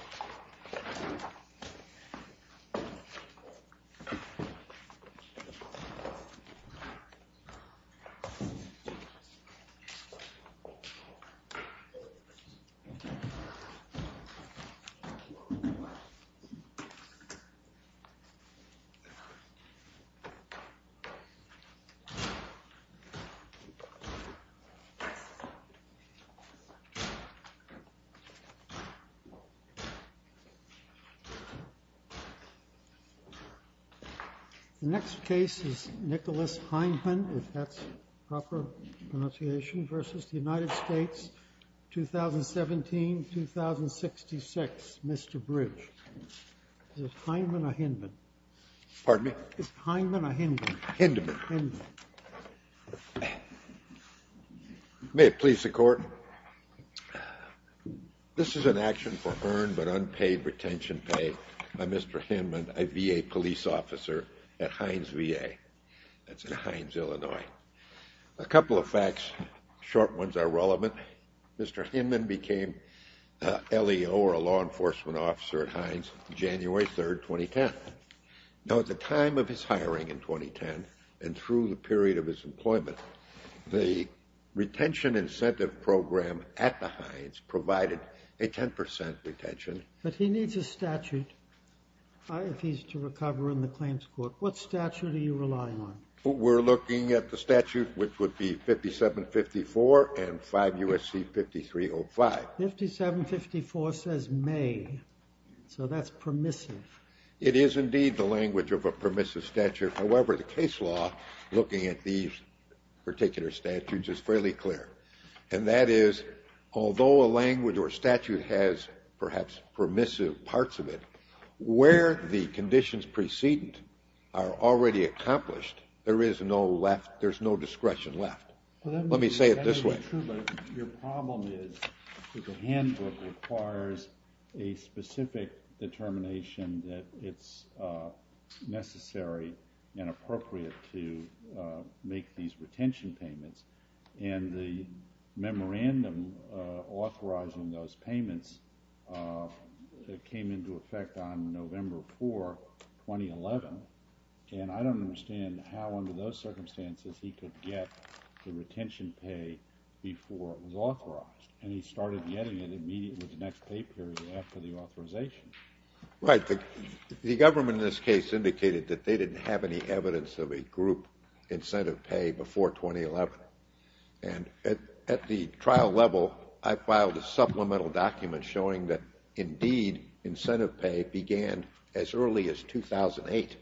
U.S. President Donald Trump visited Washington, D.C. on Monday, June 20, to discuss the U.S.-U.S. relationship. The U.S.-U.S. relationship is an important part of the U.S.-U.S. relationship. The U.S.-U.S. relationship is an important part of the U.S.-U.S. relationship. The next case is Nicholas Heinemann v. United States, 2017-2066, Mr. Bridge. Is it Heinemann or Hinman? Is it Heinemann or Hinman? Hinman. May it please the court. This is an action for earned but unpaid retention pay by Mr. Hinman, a VA police officer at Heinz VA. That's in Heinz, Illinois. A couple of facts, short ones are relevant. Mr. Hinman became LEO, or a law enforcement officer at Heinz, January 3, 2010. Now at the time of his hiring in 2010 and through the period of his employment, the retention incentive program at the Heinz provided a 10% retention. But he needs a statute if he's to recover in the claims court. What statute are you relying on? We're looking at the statute which would be 5754 and 5 U.S.C. 5305. 5754 says may, so that's permissive. It is indeed the language of a permissive statute. However, the case law looking at these particular statutes is fairly clear. And that is although a language or statute has perhaps permissive parts of it, where the conditions precedent are already accomplished, there is no left, there's no discretion left. Let me say it this way. I'm not sure, but your problem is that the handbook requires a specific determination that it's necessary and appropriate to make these retention payments. And the memorandum authorizing those payments came into effect on November 4, 2011. And I don't understand how under those circumstances he could get the retention pay before it was authorized. And he started getting it immediately the next pay period after the authorization. Right. The government in this case indicated that they didn't have any evidence of a group incentive pay before 2011. And at the trial level, I filed a supplemental document showing that indeed incentive pay began as early as 2008,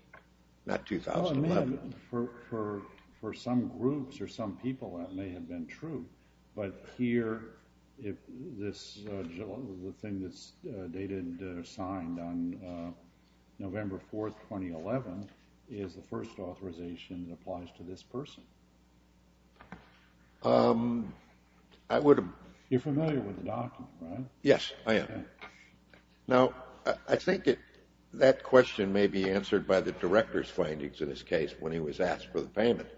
not 2011. For some groups or some people, that may have been true. But here, the thing that's dated or signed on November 4, 2011, is the first authorization that applies to this person. You're familiar with the document, right? Yes, I am. Now, I think that question may be answered by the director's findings in this case when he was asked for the payment.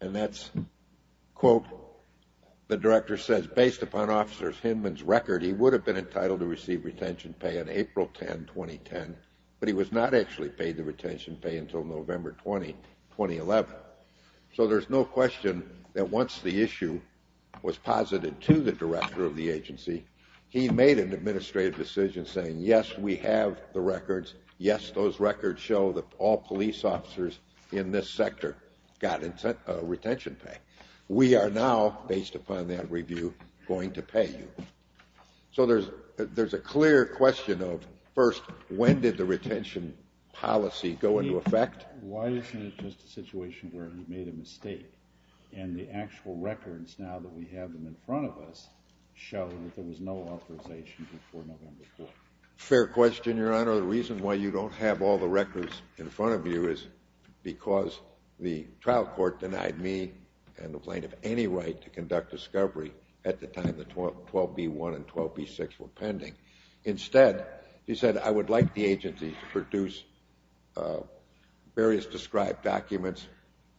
And that's, quote, the director says, Based upon Officer Hinman's record, he would have been entitled to receive retention pay on April 10, 2010, but he was not actually paid the retention pay until November 20, 2011. So there's no question that once the issue was posited to the director of the agency, he made an administrative decision saying, Yes, we have the records. Yes, those records show that all police officers in this sector got retention pay. We are now, based upon that review, going to pay you. So there's a clear question of, first, when did the retention policy go into effect? Why isn't it just a situation where he made a mistake, and the actual records now that we have them in front of us show that there was no authorization before November 4? Fair question, Your Honor. The reason why you don't have all the records in front of you is because the trial court denied me and the plaintiff any right to conduct discovery at the time the 12B1 and 12B6 were pending. Instead, he said, I would like the agency to produce various described documents,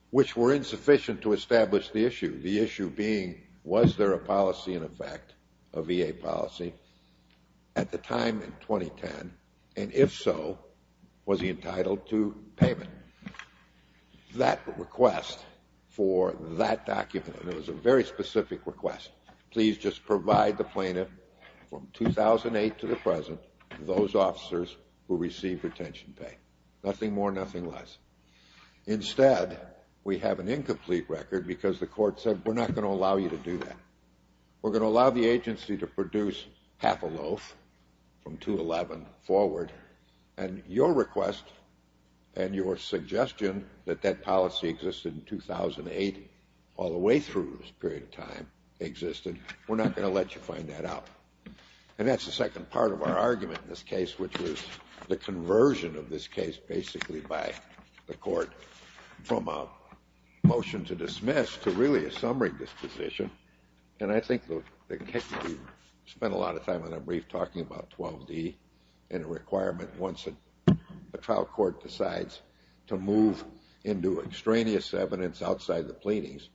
which were insufficient to establish the issue. The issue being, was there a policy in effect, a VA policy, at the time in 2010, and if so, was he entitled to payment? That request for that document, and it was a very specific request, please just provide the plaintiff from 2008 to the present, those officers who received retention pay. Nothing more, nothing less. Instead, we have an incomplete record because the court said, we're not going to allow you to do that. We're going to allow the agency to produce half a loaf from 2-11 forward, and your request and your suggestion that that policy existed in 2008, all the way through this period of time, existed. We're not going to let you find that out. And that's the second part of our argument in this case, which was the conversion of this case basically by the court from a motion to dismiss to really a summary disposition. And I think the case, we spent a lot of time on a brief talking about 12D and a requirement once a trial court decides to move into extraneous evidence outside the pleadings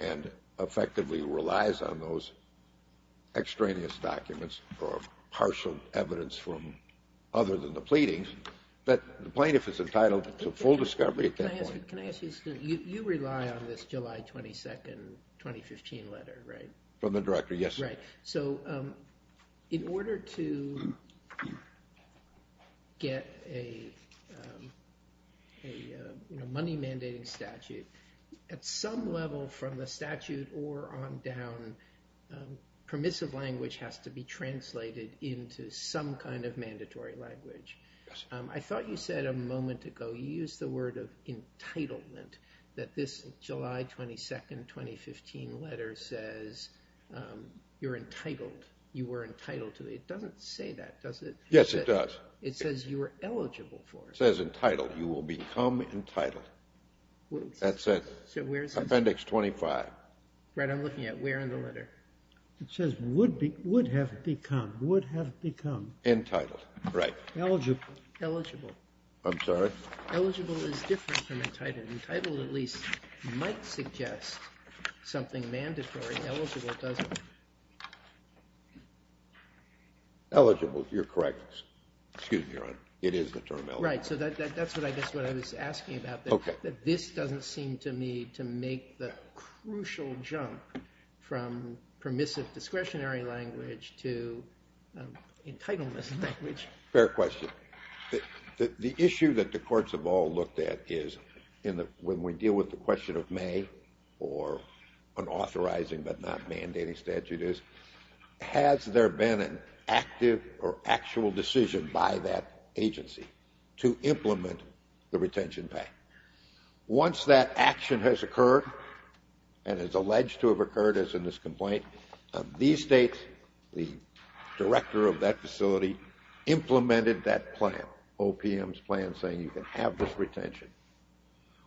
and effectively relies on those extraneous documents or partial evidence from other than the pleadings, that the plaintiff is entitled to full discovery at that point. Can I ask you a question? You rely on this July 22, 2015 letter, right? From the director, yes. Right. So in order to get a money mandating statute, at some level from the statute or on down, permissive language has to be translated into some kind of mandatory language. I thought you said a moment ago, you used the word of entitlement, that this July 22, 2015 letter says you're entitled. You were entitled to it. It doesn't say that, does it? Yes, it does. It says you are eligible for it. It says entitled. You will become entitled. That's it. So where is it? Appendix 25. Right. I'm looking at where in the letter. It says would have become. Would have become. Entitled. Right. Eligible. Eligible. I'm sorry? Eligible is different from entitled. Entitled at least might suggest something mandatory. Eligible doesn't. Eligible. You're correct. Excuse me, Your Honor. It is the term eligible. Right. So that's what I guess what I was asking about. Okay. That this doesn't seem to me to make the crucial jump from permissive discretionary language to entitlement language. Fair question. The issue that the courts have all looked at is when we deal with the question of may or an authorizing but not mandating statute is, has there been an active or actual decision by that agency to implement the retention pay? Once that action has occurred and is alleged to have occurred as in this complaint, these states, the director of that facility, implemented that plan, OPM's plan saying you can have this retention.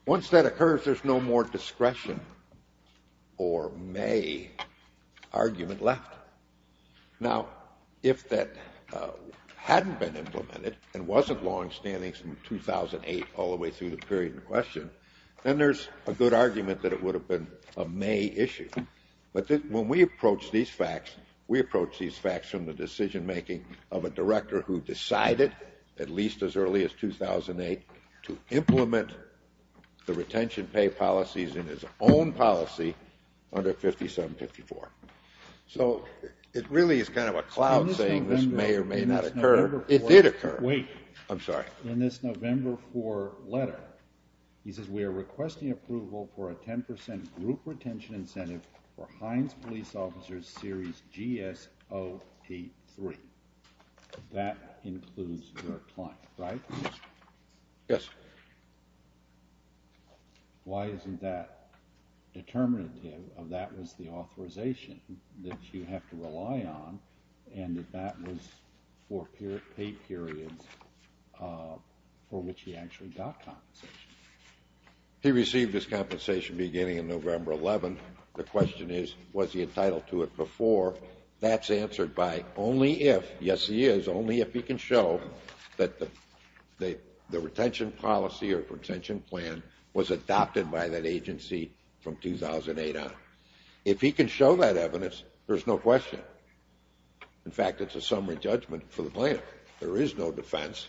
Once that occurs, there's no more discretion or may argument left. Now, if that hadn't been implemented and wasn't longstanding since 2008 all the way through the period in question, then there's a good argument that it would have been a may issue. But when we approach these facts, we approach these facts from the decision making of a director who decided, at least as early as 2008, to implement the retention pay policies in his own policy under 5754. So it really is kind of a cloud saying this may or may not occur. It did occur. Wait. I'm sorry. In this November 4 letter, he says, we are requesting approval for a 10% group retention incentive for Heinz Police Officers Series GS-083. That includes your client, right? Yes. Why isn't that determinative of that was the authorization that you have to rely on and that that was for paid periods for which he actually got compensation? He received his compensation beginning in November 11. The question is, was he entitled to it before? That's answered by only if, yes he is, only if he can show that the retention policy or retention plan was adopted by that agency from 2008 on. If he can show that evidence, there's no question. In fact, it's a summary judgment for the plan. There is no defense.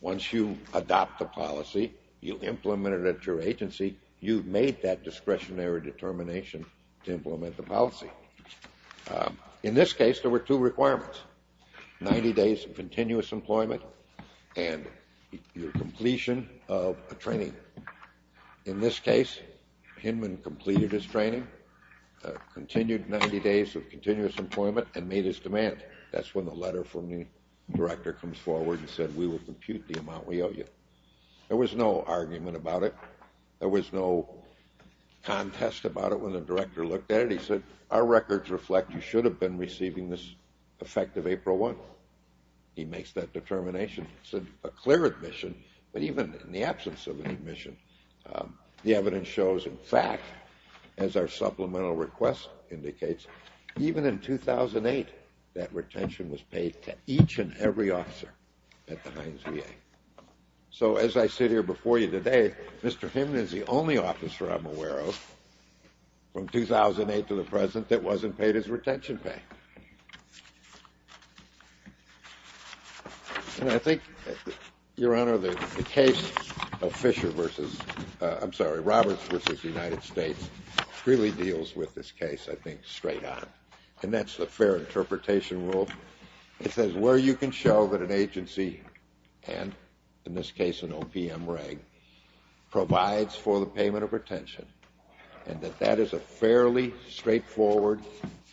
Once you adopt the policy, you implement it at your agency, you've made that discretionary determination to implement the policy. In this case, there were two requirements, 90 days of continuous employment and your completion of a training. In this case, Hinman completed his training, continued 90 days of continuous employment, and made his demand. That's when the letter from the director comes forward and said, we will compute the amount we owe you. There was no argument about it. There was no contest about it when the director looked at it. He said, our records reflect you should have been receiving this effective April 1. He makes that determination. It's a clear admission, but even in the absence of an admission, the evidence shows, in fact, as our supplemental request indicates, even in 2008 that retention was paid to each and every officer at the Heinz VA. So as I sit here before you today, Mr. Hinman is the only officer I'm aware of from 2008 to the present that wasn't paid his retention pay. And I think, Your Honor, the case of Roberts v. United States really deals with this case, I think, straight on. And that's the fair interpretation rule. It says where you can show that an agency, and in this case an OPM reg, provides for the payment of retention, and that that is a fairly straightforward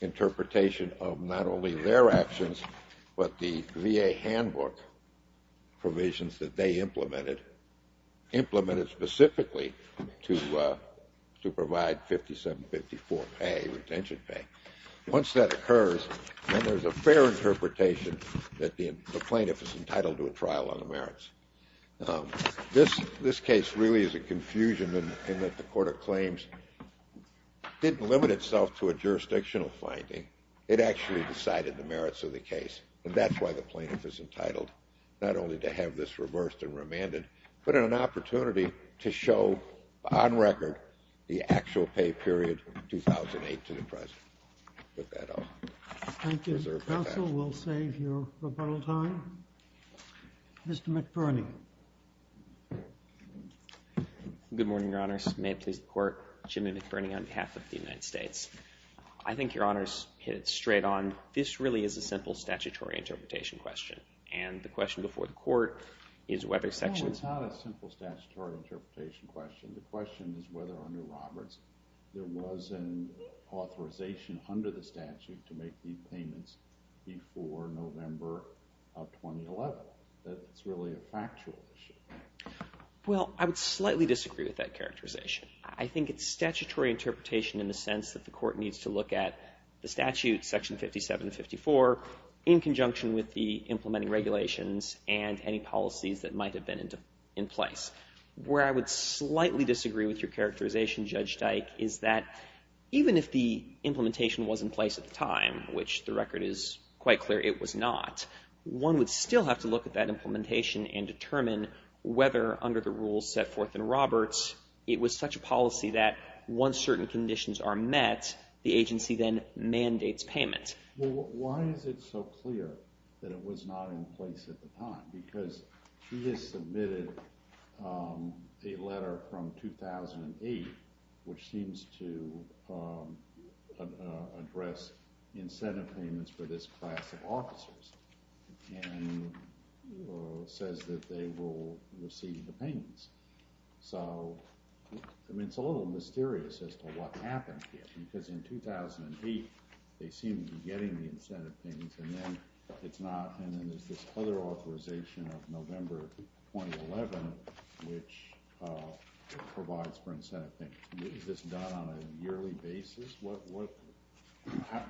interpretation of not only their actions, but the VA handbook provisions that they implemented, implemented specifically to provide 5754 pay, retention pay. Once that occurs, then there's a fair interpretation that the plaintiff is entitled to a trial on the merits. This case really is a confusion in that the court of claims didn't limit itself to a jurisdictional finding. It actually decided the merits of the case. And that's why the plaintiff is entitled not only to have this reversed and remanded, but an opportunity to show on record the actual pay period 2008 to the present. With that, I'll reserve my time. Thank you, counsel. We'll save your rebuttal time. Mr. McBurney. Good morning, Your Honors. May it please the Court. Jimmy McBurney on behalf of the United States. I think Your Honors hit it straight on. This really is a simple statutory interpretation question. And the question before the Court is whether section... No, it's not a simple statutory interpretation question. The question is whether, under Roberts, there was an authorization under the statute to make these payments before November of 2011. That's really a factual issue. Well, I would slightly disagree with that characterization. I think it's statutory interpretation in the sense that the Court needs to look at the statute, section 5754, in conjunction with the implementing regulations and any policies that might have been in place. Where I would slightly disagree with your characterization, Judge Dyke, is that even if the implementation was in place at the time, which the record is quite clear it was not, one would still have to look at that implementation and determine whether, under the rules set forth in Roberts, it was such a policy that once certain conditions are met, the agency then mandates payment. Why is it so clear that it was not in place at the time? Because he has submitted a letter from 2008 which seems to address incentive payments for this class of officers and says that they will receive the payments. So, I mean, it's a little mysterious as to what happened here because in 2008 they seem to be getting the incentive payments and then there's this other authorization of November 2011 which provides for incentive payments. Is this done on a yearly basis?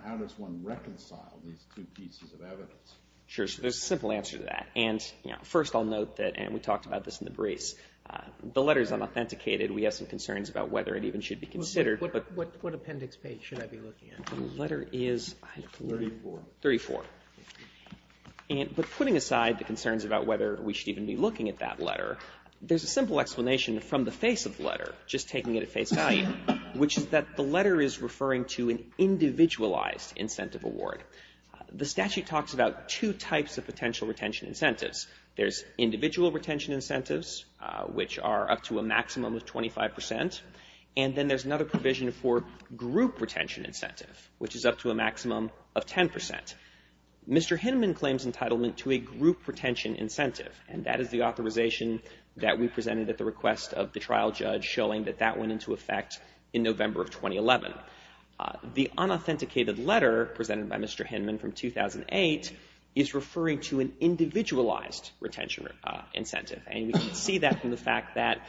How does one reconcile these two pieces of evidence? Sure, so there's a simple answer to that. First, I'll note that, and we talked about this in the briefs, the letter is unauthenticated. We have some concerns about whether it even should be considered. But what appendix page should I be looking at? The letter is 34. But putting aside the concerns about whether we should even be looking at that letter, there's a simple explanation from the face of the letter, just taking it at face value, which is that the letter is referring to an individualized incentive award. The statute talks about two types of potential retention incentives. There's individual retention incentives, which are up to a maximum of 25 percent, and then there's another provision for group retention incentive, which is up to a maximum of 10 percent. Mr. Hinman claims entitlement to a group retention incentive, and that is the authorization that we presented at the request of the trial judge showing that that went into effect in November of 2011. The unauthenticated letter presented by Mr. Hinman from 2008 is referring to an individualized retention incentive, and we can see that from the fact that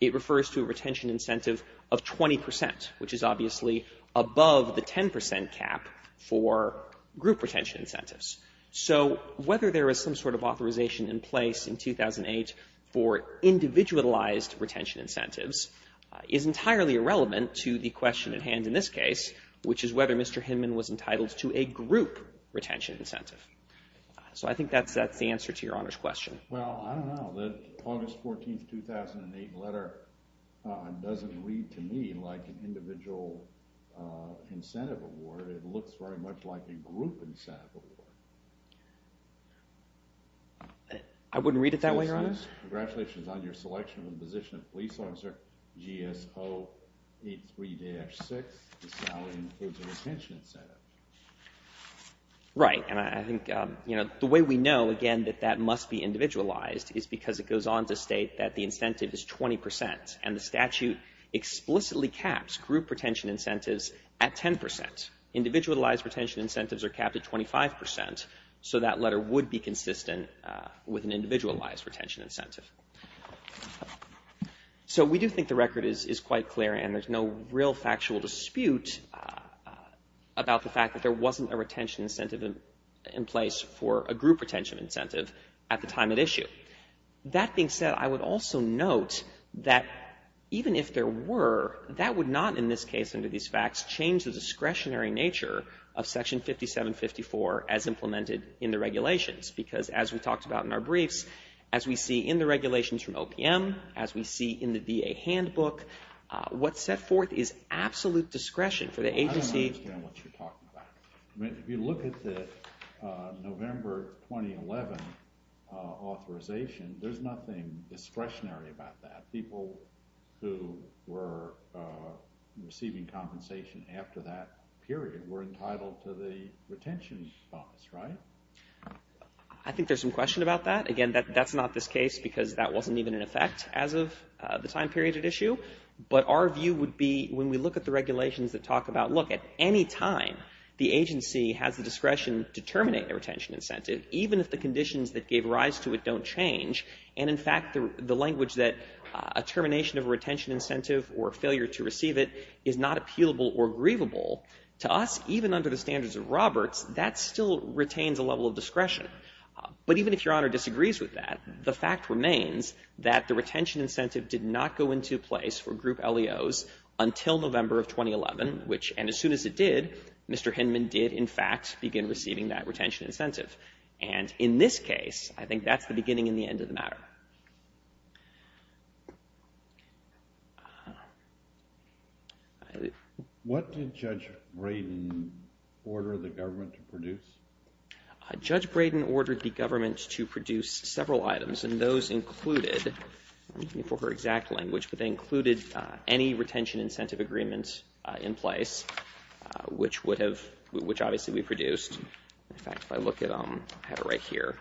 it refers to a retention incentive of 20 percent, which is obviously above the 10 percent cap for group retention incentives. So whether there is some sort of authorization in place in 2008 for individualized retention incentives is entirely irrelevant to the question at hand in this case, which is whether Mr. Hinman was entitled to a group retention incentive. So I think that's the answer to Your Honor's question. Well, I don't know. The August 14, 2008 letter doesn't read to me like an individual incentive award. It looks very much like a group incentive award. I wouldn't read it that way, Your Honor. Congratulations on your selection and position of police officer. GSO 83-6, the salary includes a retention incentive. Right. And I think, you know, the way we know, again, that that must be individualized is because it goes on to state that the incentive is 20 percent, and the statute explicitly caps group retention incentives at 10 percent. Individualized retention incentives are capped at 25 percent, so that letter would be consistent with an individualized retention incentive. So we do think the record is quite clear, and there's no real factual dispute about the fact that there wasn't a retention incentive in place for a group retention incentive at the time at issue. That being said, I would also note that even if there were, that would not, in this case under these facts, change the discretionary nature of Section 5754 as implemented in the regulations, because as we talked about in our briefs, as we see in the regulations from OPM, as we see in the DA handbook, what's set forth is absolute discretion for the agency. If you look at the November 2011 authorization, there's nothing discretionary about that. People who were receiving compensation after that period were entitled to the retention bonus, right? I think there's some question about that. Again, that's not this case because that wasn't even in effect as of the time period at issue. But our view would be when we look at the regulations that talk about, look, at any time the agency has the discretion to terminate the retention incentive, even if the conditions that gave rise to it don't change, and in fact the language that a termination of a retention incentive or failure to receive it is not appealable or grievable, to us, even under the standards of Roberts, that still retains a level of discretion. But even if Your Honor disagrees with that, the fact remains that the retention incentive did not go into place for group LEOs until November of 2011, which, and as soon as it did, Mr. Hinman did, in fact, begin receiving that retention incentive. And in this case, I think that's the beginning and the end of the matter. What did Judge Braden order the government to produce? Judge Braden ordered the government to produce several items, and those included, I'm looking for her exact language, but they included any retention incentive agreement in place, which obviously we produced. In fact, if I look at them, I have it right here.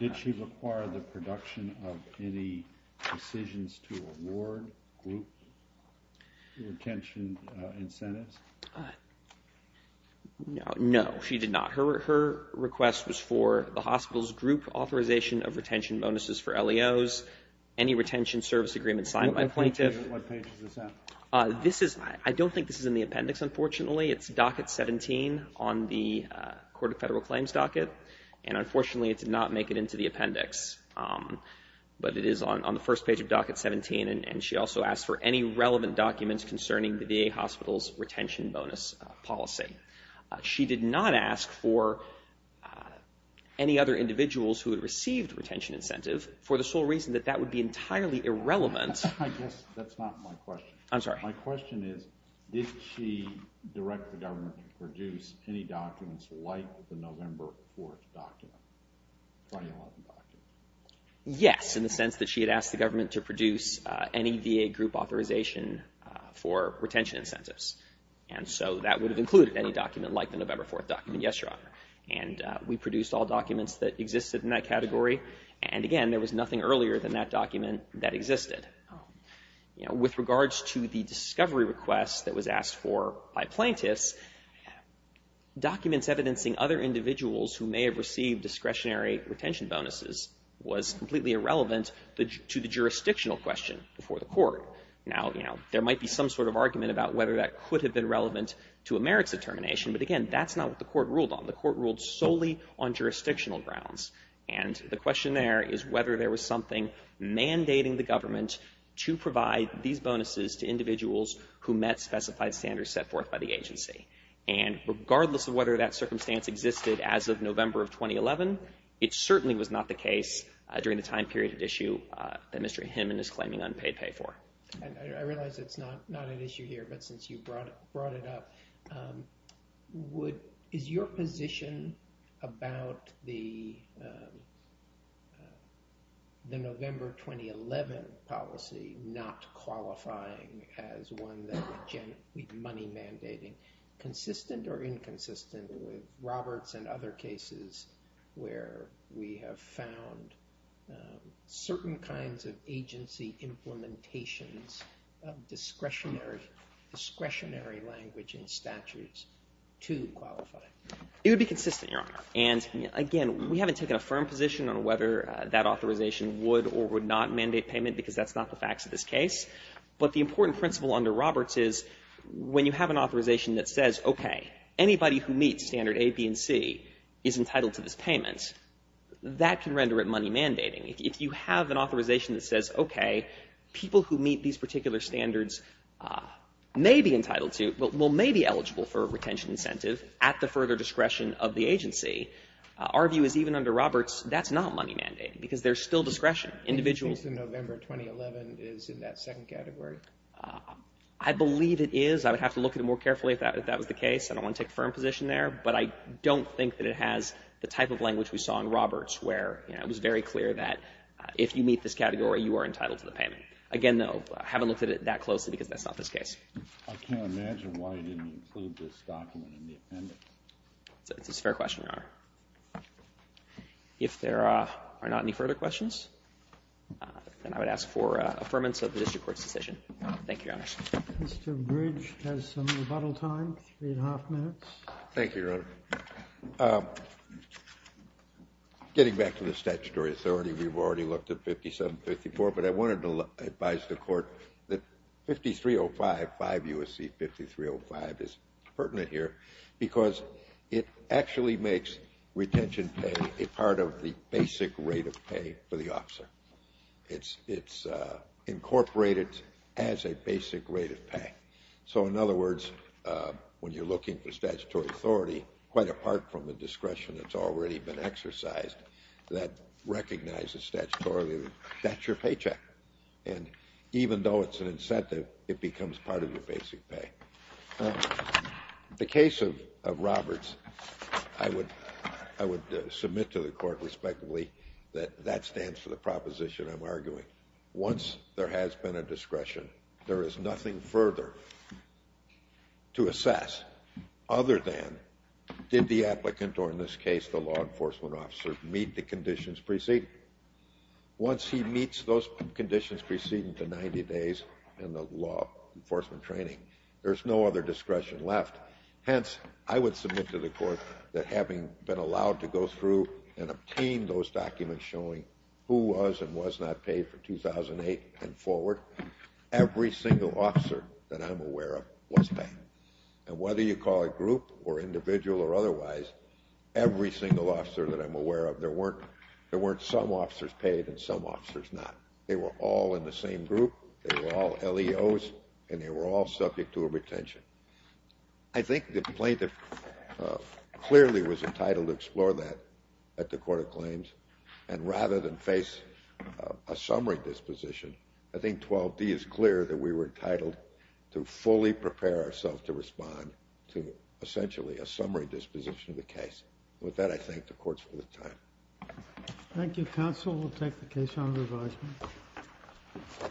Did she require the production of any decisions to award group retention incentives? No, she did not. Her request was for the hospital's group authorization of retention bonuses for LEOs, any retention service agreement signed by plaintiff. What page is this at? I don't think this is in the appendix, unfortunately. It's docket 17 on the Court of Federal Claims docket, and unfortunately it did not make it into the appendix. But it is on the first page of docket 17, and she also asked for any relevant documents concerning the VA hospital's retention bonus policy. She did not ask for any other individuals who had received retention incentive for the sole reason that that would be entirely irrelevant. I guess that's not my question. I'm sorry. My question is, did she direct the government to produce any documents like the November 4th document, 2011 document? Yes, in the sense that she had asked the government to produce any VA group authorization for retention incentives, and so that would have included any document like the November 4th document, yes, Your Honor. And we produced all documents that existed in that category, and again, there was nothing earlier than that document that existed. With regards to the discovery request that was asked for by plaintiffs, documents evidencing other individuals who may have received discretionary retention bonuses was completely irrelevant to the jurisdictional question before the court. Now, there might be some sort of argument about whether that could have been relevant to a merits determination, but again, that's not what the court ruled on. The court ruled solely on jurisdictional grounds, and the question there is whether there was something mandating the government to provide these bonuses to individuals who met specified standards set forth by the agency. And regardless of whether that circumstance existed as of November of 2011, it certainly was not the case during the time period at issue that Mr. Hinman is claiming unpaid pay for. I realize it's not an issue here, but since you brought it up, is your position about the November 2011 policy not qualifying as one that would be money mandating consistent or inconsistent with Roberts and other cases where we have found certain kinds of agency implementations of discretionary language in statutes to qualify? It would be consistent, Your Honor. And again, we haven't taken a firm position on whether that authorization would or would not mandate payment because that's not the facts of this case. But the important principle under Roberts is when you have an authorization that says, okay, anybody who meets standard A, B, and C is entitled to this payment, that can render it money mandating. If you have an authorization that says, okay, people who meet these particular standards may be entitled to, well, may be eligible for a retention incentive at the further discretion of the agency, our view is even under Roberts, that's not money mandating because there's still discretion. Individuals... Do you think the November 2011 is in that second category? I believe it is. I would have to look at it more carefully if that was the case. I don't want to take a firm position there, but I don't think that it has the type of language we saw in Roberts where it was very clear that if you meet this category, you are entitled to the payment. Again, though, I haven't looked at it that closely because that's not this case. I can't imagine why you didn't include this document in the appendix. It's a fair question, Your Honor. If there are not any further questions, then I would ask for affirmance of the district court's decision. Thank you, Your Honors. Mr. Bridge has some rebuttal time, three and a half minutes. Thank you, Your Honor. Getting back to the statutory authority, we've already looked at 5754, but I wanted to advise the court that 5305, 5 U.S.C. 5305 is pertinent here because it actually makes retention pay a part of the basic rate of pay for the officer. It's incorporated as a basic rate of pay. So, in other words, when you're looking for statutory authority, quite apart from the discretion that's already been exercised that recognizes statutorily that that's your paycheck, and even though it's an incentive, it becomes part of your basic pay. The case of Roberts, I would submit to the court respectively that that stands for the proposition I'm arguing. Once there has been a discretion, there is nothing further to assess other than did the applicant, or in this case the law enforcement officer, meet the conditions preceded. Once he meets those conditions preceding the 90 days in the law enforcement training, there's no other discretion left. Hence, I would submit to the court that having been allowed to go through and obtain those documents showing who was and was not paid for 2008 and forward, every single officer that I'm aware of was paid. And whether you call it group or individual or otherwise, every single officer that I'm aware of, there weren't some officers paid and some officers not. They were all in the same group, they were all LEOs, and they were all subject to a retention. I think the plaintiff clearly was entitled to explore that at the court of claims, and rather than face a summary disposition, I think 12D is clear that we were entitled to fully prepare ourselves to respond to essentially a summary disposition of the case. With that, I thank the courts for the time. Thank you, counsel. We'll take the case on revisement.